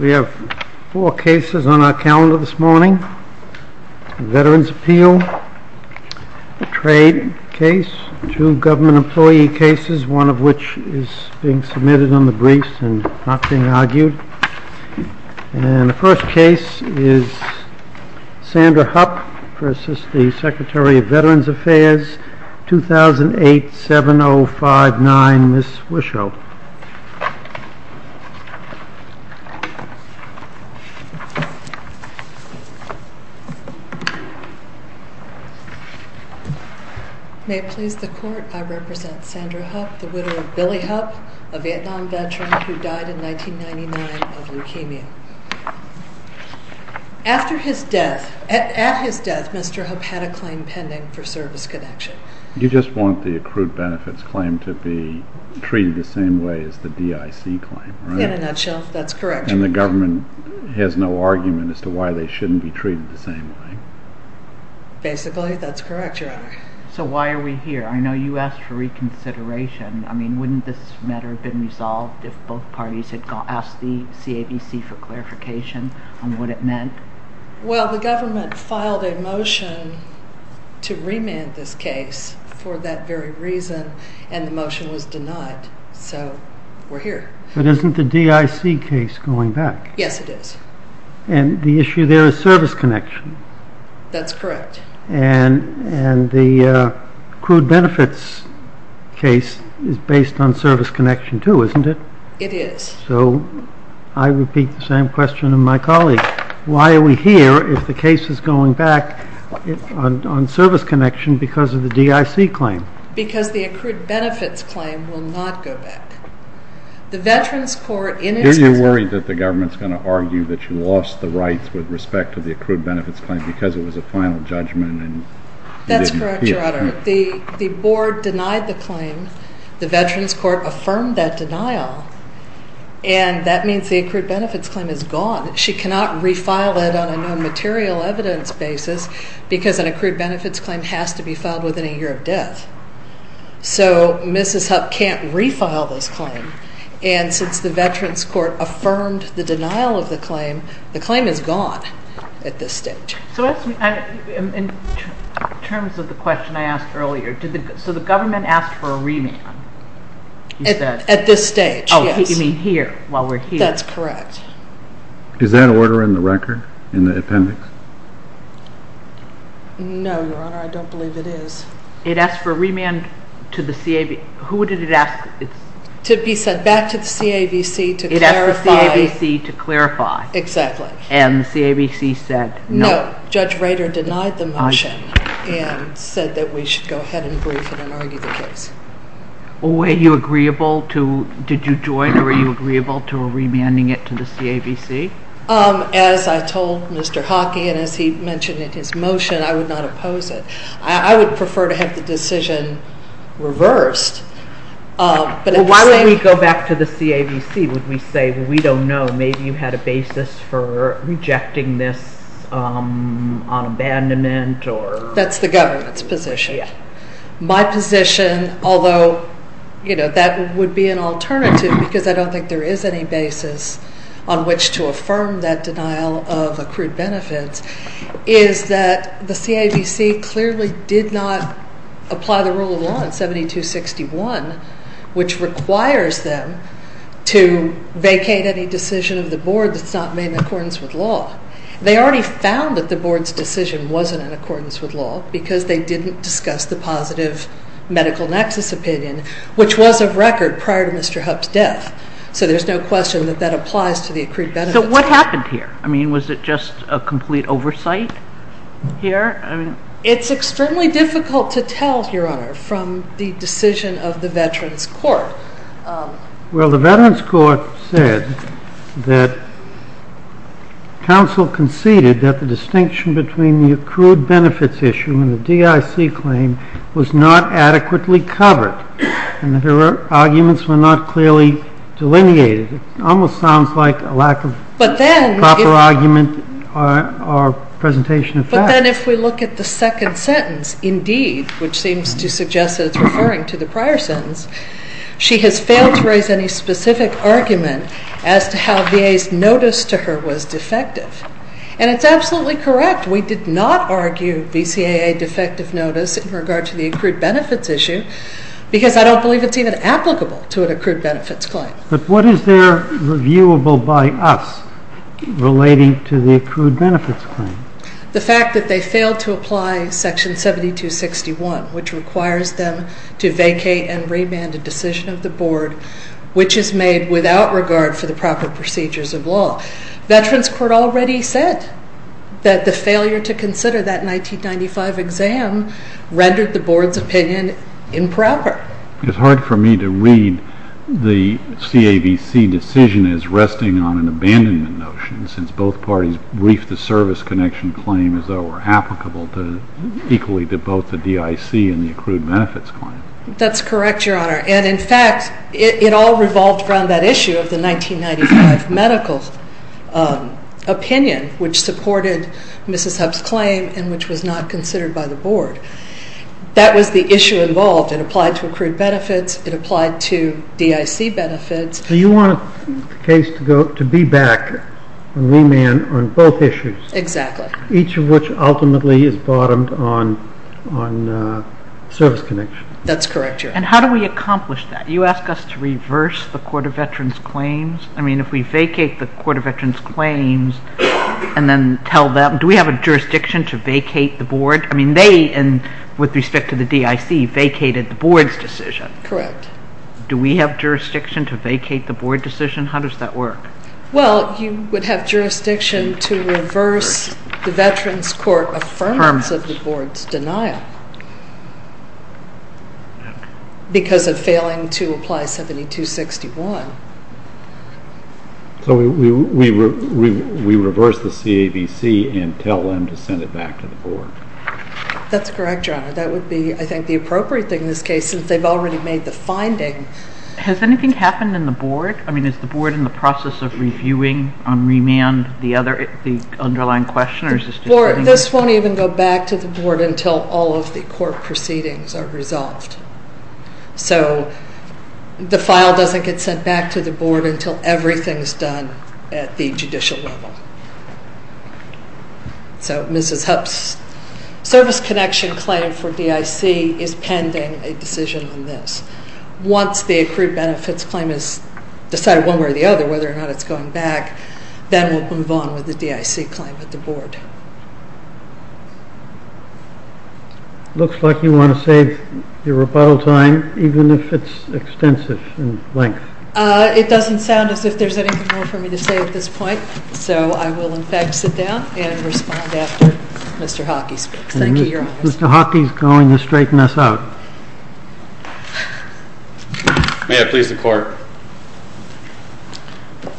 We have four cases on our calendar this morning. Veterans Appeal, a trade case, two government employee cases, one of which is being submitted on the briefs and not being argued. And the first case is Sandra Hupp v. Secretary of Veterans Affairs, 2008-7059, Ms. Wischow. May it please the Court, I represent Sandra Hupp, the widow of Billy Hupp, a Vietnam veteran who died in 1999 of leukemia. After his death, at his death, Mr. Hupp had a claim pending for service connection. You just want the accrued benefits claim to be treated the same way as the DIC claim, right? In a nutshell, that's correct. And the government has no argument as to why they shouldn't be treated the same way? Basically, that's correct, Your Honor. So why are we here? I know you asked for reconsideration. I mean, wouldn't this matter have been resolved if both parties had asked the CABC for clarification on what it meant? Well, the government filed a motion to remand this case for that very reason, and the motion was denied. So we're here. But isn't the DIC case going back? Yes, it is. And the issue there is service connection. That's correct. And the accrued benefits case is based on service connection too, isn't it? It is. So I repeat the same question to my colleague. Why are we here if the case is going back on service connection because of the DIC claim? Because the accrued benefits claim will not go back. The Veterans Court in its... Are you worried that the government is going to argue that you lost the rights with respect to the accrued benefits claim because it was a final judgment and... That's correct, Your Honor. The board denied the claim. The Veterans Court affirmed that denial, and that means the accrued benefits claim is gone. She cannot refile it on a nonmaterial evidence basis because an accrued benefits claim has to be filed within a year of death. So Mrs. Hupp can't refile this claim. And since the Veterans Court affirmed the denial of the claim, the claim is gone at this stage. So in terms of the question I asked earlier, so the government asked for a remand. At this stage, yes. Oh, you mean here, while we're here. That's correct. Is that order in the record, in the appendix? No, Your Honor, I don't believe it is. It asked for a remand to the CAVC. Who did it ask? To be sent back to the CAVC to clarify. It asked the CAVC to clarify. Exactly. And the CAVC said no. No, Judge Rader denied the motion and said that we should go ahead and brief it and argue the case. Were you agreeable to, did you join or were you agreeable to a remanding it to the CAVC? As I told Mr. Hockey and as he mentioned in his motion, I would not oppose it. I would prefer to have the decision reversed. Well, why don't we go back to the CAVC? Would we say, well, we don't know, maybe you had a basis for rejecting this on abandonment or? That's the government's position. My position, although, you know, that would be an alternative because I don't think there is any basis on which to affirm that denial of accrued benefits, is that the CAVC clearly did not apply the rule of law in 7261, which requires them to vacate any decision of the board that's not made in accordance with law. They already found that the board's decision wasn't in accordance with law because they didn't discuss the positive medical nexus opinion, which was of record prior to Mr. Hub's death, so there's no question that that applies to the accrued benefits. So what happened here? I mean, was it just a complete oversight here? It's extremely difficult to tell, Your Honor, from the decision of the Veterans Court. Well, the Veterans Court said that counsel conceded that the distinction between the accrued benefits issue and the DIC claim was not adequately covered and that her arguments were not clearly delineated. It almost sounds like a lack of proper argument or presentation of facts. But then if we look at the second sentence, indeed, which seems to suggest that it's referring to the prior sentence, she has failed to raise any specific argument as to how VA's notice to her was defective. And it's absolutely correct. We did not argue VCAA defective notice in regard to the accrued benefits issue because I don't believe it's even applicable to an accrued benefits claim. But what is there reviewable by us relating to the accrued benefits claim? The fact that they failed to apply Section 7261, which requires them to vacate and remand a decision of the Board, which is made without regard for the proper procedures of law. Veterans Court already said that the failure to consider that 1995 exam rendered the Board's opinion improper. It's hard for me to read the CAVC decision as resting on an abandonment notion since both parties briefed the service connection claim as though it were applicable equally to both the DIC and the accrued benefits claim. That's correct, Your Honor. And, in fact, it all revolved around that issue of the 1995 medical opinion, which supported Mrs. Hupp's claim and which was not considered by the Board. That was the issue involved. It applied to accrued benefits. It applied to DIC benefits. So you want the case to be back on remand on both issues. Exactly. Each of which ultimately is bottomed on service connection. That's correct, Your Honor. And how do we accomplish that? You ask us to reverse the Court of Veterans Claims? I mean, if we vacate the Court of Veterans Claims and then tell them, do we have a jurisdiction to vacate the Board? I mean, they, with respect to the DIC, vacated the Board's decision. Correct. Do we have jurisdiction to vacate the Board decision? How does that work? Well, you would have jurisdiction to reverse the Veterans Court Affirmative Board's denial because of failing to apply 7261. So we reverse the CAVC and tell them to send it back to the Board. That's correct, Your Honor. That would be, I think, the appropriate thing in this case since they've already made the finding. Has anything happened in the Board? I mean, is the Board in the process of reviewing on remand the underlying question? This won't even go back to the Board until all of the court proceedings are resolved. So the file doesn't get sent back to the Board until everything is done at the judicial level. So Mrs. Hupp's service connection claim for DIC is pending a decision on this. Once the accrued benefits claim is decided one way or the other, whether or not it's going back, then we'll move on with the DIC claim at the Board. It looks like you want to save your rebuttal time even if it's extensive in length. It doesn't sound as if there's anything more for me to say at this point, so I will, in fact, sit down and respond after Mr. Hockey speaks. Thank you, Your Honor. Mr. Hockey is going to straighten us out. May I please the Court?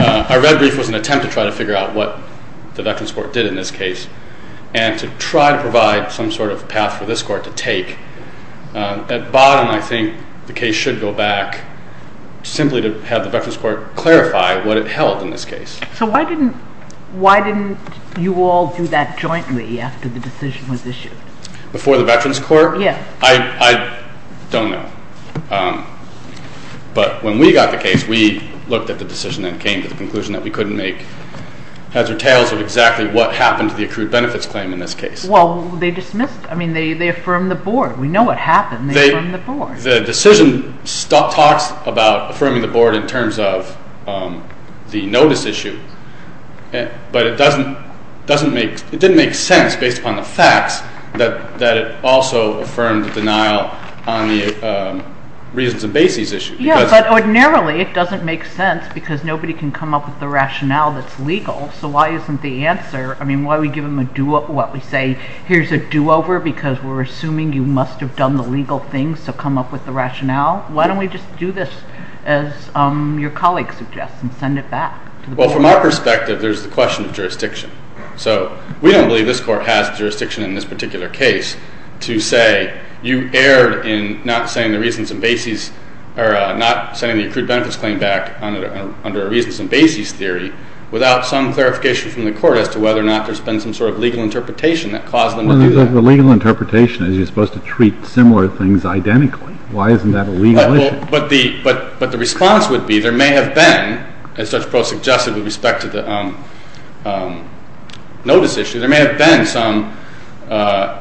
Our red brief was an attempt to try to figure out what the Veterans Court did in this case. And to try to provide some sort of path for this Court to take. At bottom, I think the case should go back simply to have the Veterans Court clarify what it held in this case. So why didn't you all do that jointly after the decision was issued? Before the Veterans Court? Yes. I don't know. But when we got the case, we looked at the decision and came to the conclusion that we couldn't make. That's the tales of exactly what happened to the accrued benefits claim in this case. Well, they dismissed. I mean, they affirmed the Board. We know what happened. They affirmed the Board. The decision talks about affirming the Board in terms of the notice issue, but it didn't make sense based upon the facts that it also affirmed the denial on the reasons and bases issue. Yes, but ordinarily it doesn't make sense because nobody can come up with the rationale that's legal. So why isn't the answer, I mean, why don't we give them what we say, here's a do-over because we're assuming you must have done the legal things to come up with the rationale. Why don't we just do this as your colleague suggests and send it back? Well, from our perspective, there's the question of jurisdiction. So we don't believe this Court has jurisdiction in this particular case to say, okay, you erred in not sending the accrued benefits claim back under a reasons and bases theory without some clarification from the Court as to whether or not there's been some sort of legal interpretation that caused them to do that. Well, the legal interpretation is you're supposed to treat similar things identically. Why isn't that a legal issue? But the response would be there may have been, as Judge Proh suggested with respect to the notice issue, there may have been some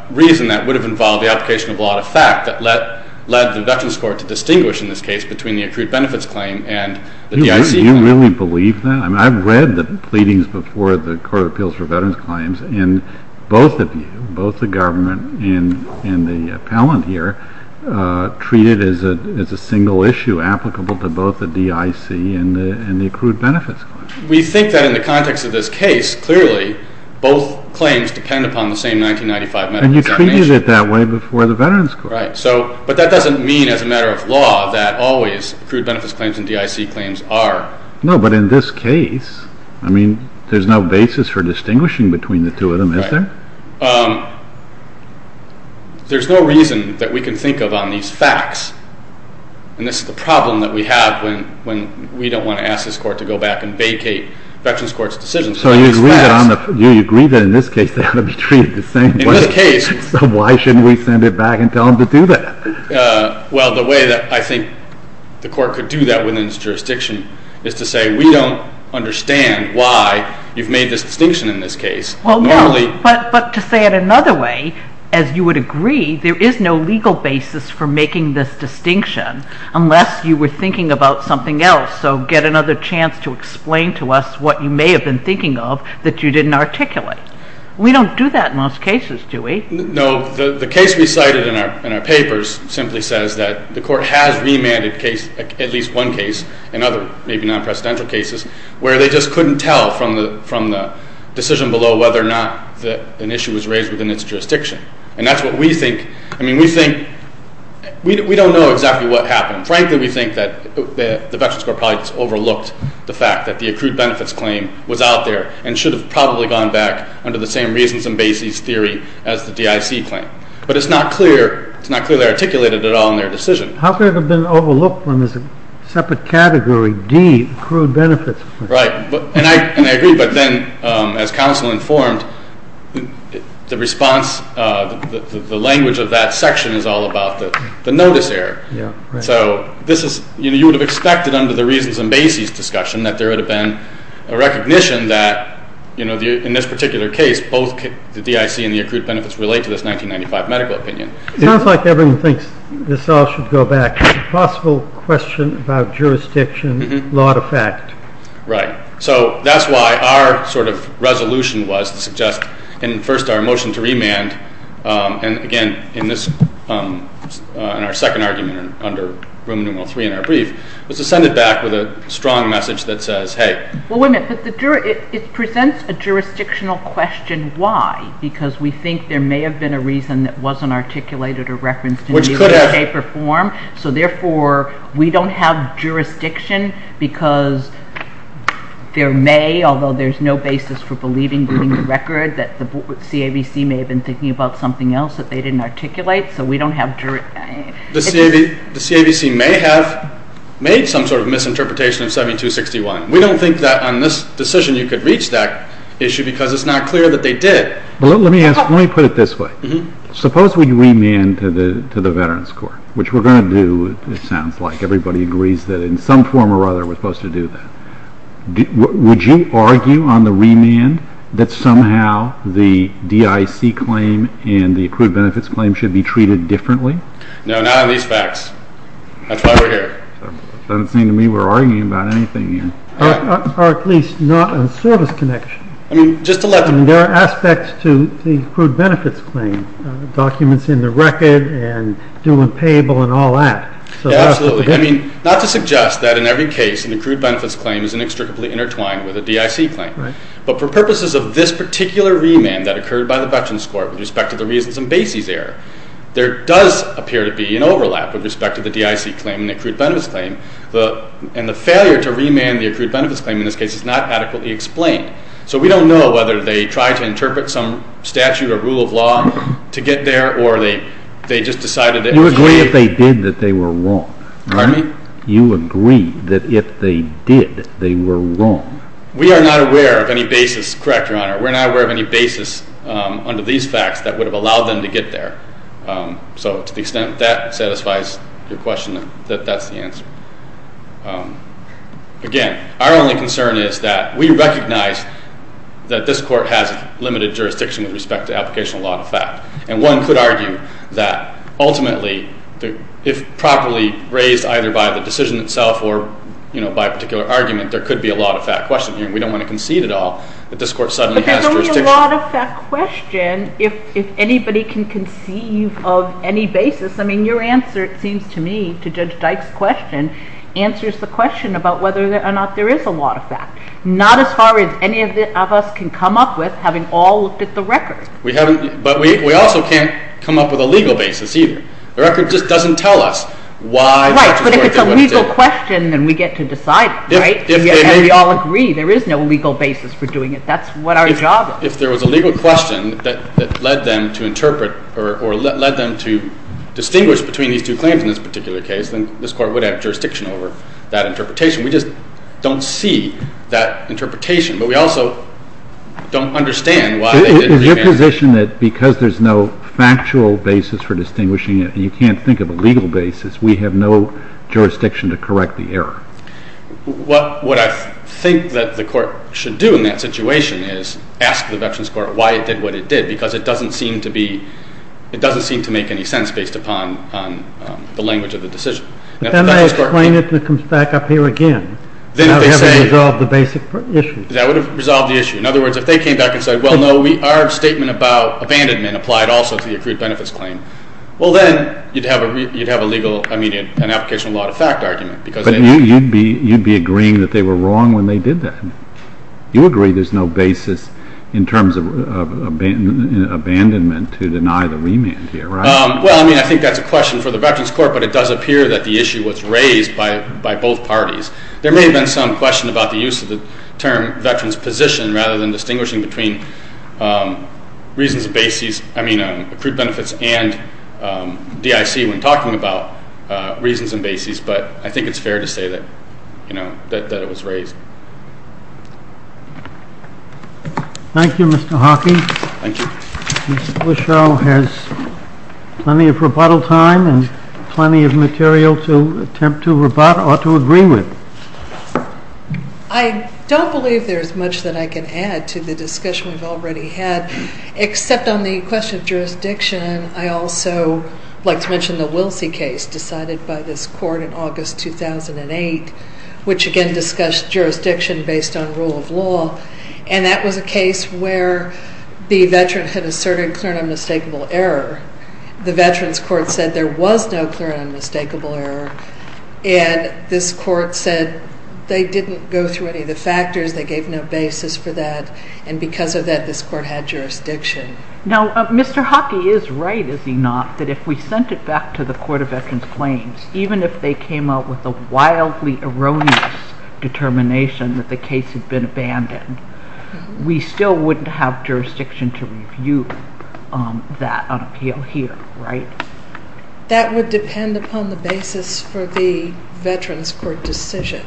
reason that would have involved the application of a lot of fact that led the Veterans Court to distinguish in this case between the accrued benefits claim and the DIC claim. Do you really believe that? I mean, I've read the pleadings before the Court of Appeals for Veterans Claims, and both of you, both the government and the appellant here, treat it as a single issue applicable to both the DIC and the accrued benefits claim. We think that in the context of this case, clearly, both claims depend upon the same 1995 medical examination. And you treated it that way before the Veterans Court. Right. But that doesn't mean as a matter of law that always accrued benefits claims and DIC claims are. No, but in this case, I mean, there's no basis for distinguishing between the two of them, is there? Right. There's no reason that we can think of on these facts. And this is the problem that we have when we don't want to ask this court to go back and vacate Veterans Court's decisions. So you agree that in this case they ought to be treated the same way. In this case. So why shouldn't we send it back and tell them to do that? Well, the way that I think the court could do that within its jurisdiction is to say, we don't understand why you've made this distinction in this case. Well, no, but to say it another way, as you would agree, there is no legal basis for making this distinction unless you were thinking about something else. So get another chance to explain to us what you may have been thinking of that you didn't articulate. We don't do that in most cases, do we? No. The case we cited in our papers simply says that the court has remanded at least one case, in other maybe non-presidential cases, where they just couldn't tell from the decision below whether or not an issue was raised within its jurisdiction. And that's what we think. I mean, we think, we don't know exactly what happened. Frankly, we think that the Veterans Court probably just overlooked the fact that the accrued benefits claim was out there and should have probably gone back under the same reasons and basis theory as the DIC claim. But it's not clear, it's not clearly articulated at all in their decision. How could it have been overlooked when there's a separate category, D, accrued benefits? Right. And I agree, but then as counsel informed, the response, the language of that section is all about the notice error. So this is, you would have expected under the reasons and basis discussion that there would have been a recognition that, you know, in this particular case, both the DIC and the accrued benefits relate to this 1995 medical opinion. It sounds like everyone thinks this all should go back. It's a possible question about jurisdiction, law to fact. Right. So that's why our sort of resolution was to suggest, and first our motion to remand, and again, in this, in our second argument under Roman numeral three in our brief, was to send it back with a strong message that says, hey. Well, wait a minute, but it presents a jurisdictional question, why? Because we think there may have been a reason that wasn't articulated or referenced in a deeper form. Which could have. So therefore, we don't have jurisdiction because there may, although there's no basis for believing, reading the record, that the CAVC may have been thinking about something else that they didn't articulate, so we don't have jurisdiction. The CAVC may have made some sort of misinterpretation of 7261. We don't think that on this decision you could reach that issue because it's not clear that they did. Let me put it this way. Suppose we remand to the Veterans Court, which we're going to do, it sounds like. Everybody agrees that in some form or other we're supposed to do that. Would you argue on the remand that somehow the DIC claim and the accrued benefits claim should be treated differently? No, not on these facts. That's why we're here. Doesn't seem to me we're arguing about anything here. Or at least not on service connection. I mean, just to let them know. There are aspects to the accrued benefits claim, documents in the record and doing payable and all that. Absolutely. I mean, not to suggest that in every case an accrued benefits claim is inextricably intertwined with a DIC claim. But for purposes of this particular remand that occurred by the Veterans Court with respect to the reasons in Basie's error, there does appear to be an overlap with respect to the DIC claim and the accrued benefits claim, and the failure to remand the accrued benefits claim in this case is not adequately explained. So we don't know whether they tried to interpret some statute or rule of law to get there or they just decided that if they did. You agree if they did that they were wrong. Pardon me? You agree that if they did, they were wrong. We are not aware of any basis. Correct, Your Honor. We're not aware of any basis under these facts that would have allowed them to get there. So to the extent that satisfies your question, that that's the answer. Again, our only concern is that we recognize that this Court has limited jurisdiction with respect to application of law and fact. And one could argue that ultimately, if properly raised either by the decision itself or, you know, by a particular argument, there could be a law and fact question. We don't want to concede at all that this Court suddenly has jurisdiction. But there could be a law and fact question if anybody can conceive of any basis. I mean, your answer, it seems to me, to Judge Dyke's question, answers the question about whether or not there is a law and fact. Not as far as any of us can come up with, having all looked at the record. But we also can't come up with a legal basis either. The record just doesn't tell us why. Right, but if it's a legal question, then we get to decide it, right? And we all agree there is no legal basis for doing it. That's what our job is. If there was a legal question that led them to interpret or led them to distinguish between these two claims in this particular case, then this Court would have jurisdiction over that interpretation. We just don't see that interpretation. But we also don't understand why they didn't do that. Is your position that because there's no factual basis for distinguishing it, and you can't think of a legal basis, we have no jurisdiction to correct the error? What I think that the Court should do in that situation is ask the Veterans Court why it did what it did, because it doesn't seem to make any sense based upon the language of the decision. Then they explain it and it comes back up here again. Then if they say... That would have resolved the basic issue. That would have resolved the issue. In other words, if they came back and said, well, no, our statement about abandonment applied also to the accrued benefits claim, well, then you'd have a legal, I mean, an application of law to fact argument. But you'd be agreeing that they were wrong when they did that. You agree there's no basis in terms of abandonment to deny the remand here, right? Well, I mean, I think that's a question for the Veterans Court, but it does appear that the issue was raised by both parties. There may have been some question about the use of the term veterans position rather than distinguishing between reasons of basis, I mean, accrued benefits and DIC when talking about reasons and basis. But I think it's fair to say that, you know, that it was raised. Thank you, Mr. Hockey. Thank you. Ms. Bushell has plenty of rebuttal time and plenty of material to attempt to rebut or to agree with. I don't believe there's much that I can add to the discussion we've already had, except on the question of jurisdiction. I also would like to mention the Wilsey case decided by this court in August 2008, which again discussed jurisdiction based on rule of law. And that was a case where the veteran had asserted clear and unmistakable error. The Veterans Court said there was no clear and unmistakable error, and this court said they didn't go through any of the factors, they gave no basis for that, and because of that, this court had jurisdiction. Now, Mr. Hockey is right, is he not, that if we sent it back to the Court of Veterans Claims, even if they came up with a wildly erroneous determination that the case had been abandoned, we still wouldn't have jurisdiction to review that on appeal here, right? That would depend upon the basis for the Veterans Court decision.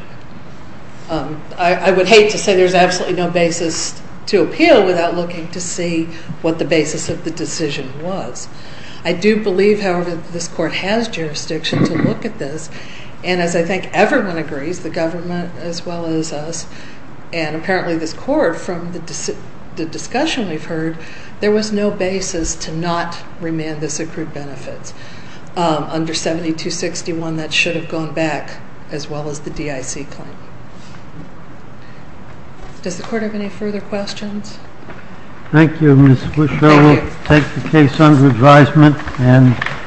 I would hate to say there's absolutely no basis to appeal without looking to see what the basis of the decision was. I do believe, however, that this court has jurisdiction to look at this, and as I think everyone agrees, the government as well as us, and apparently this court, from the discussion we've heard, there was no basis to not remand this accrued benefits. Under 7261, that should have gone back, as well as the DIC claim. Does the court have any further questions? Thank you, Ms. Wischler. We'll take the case under advisement.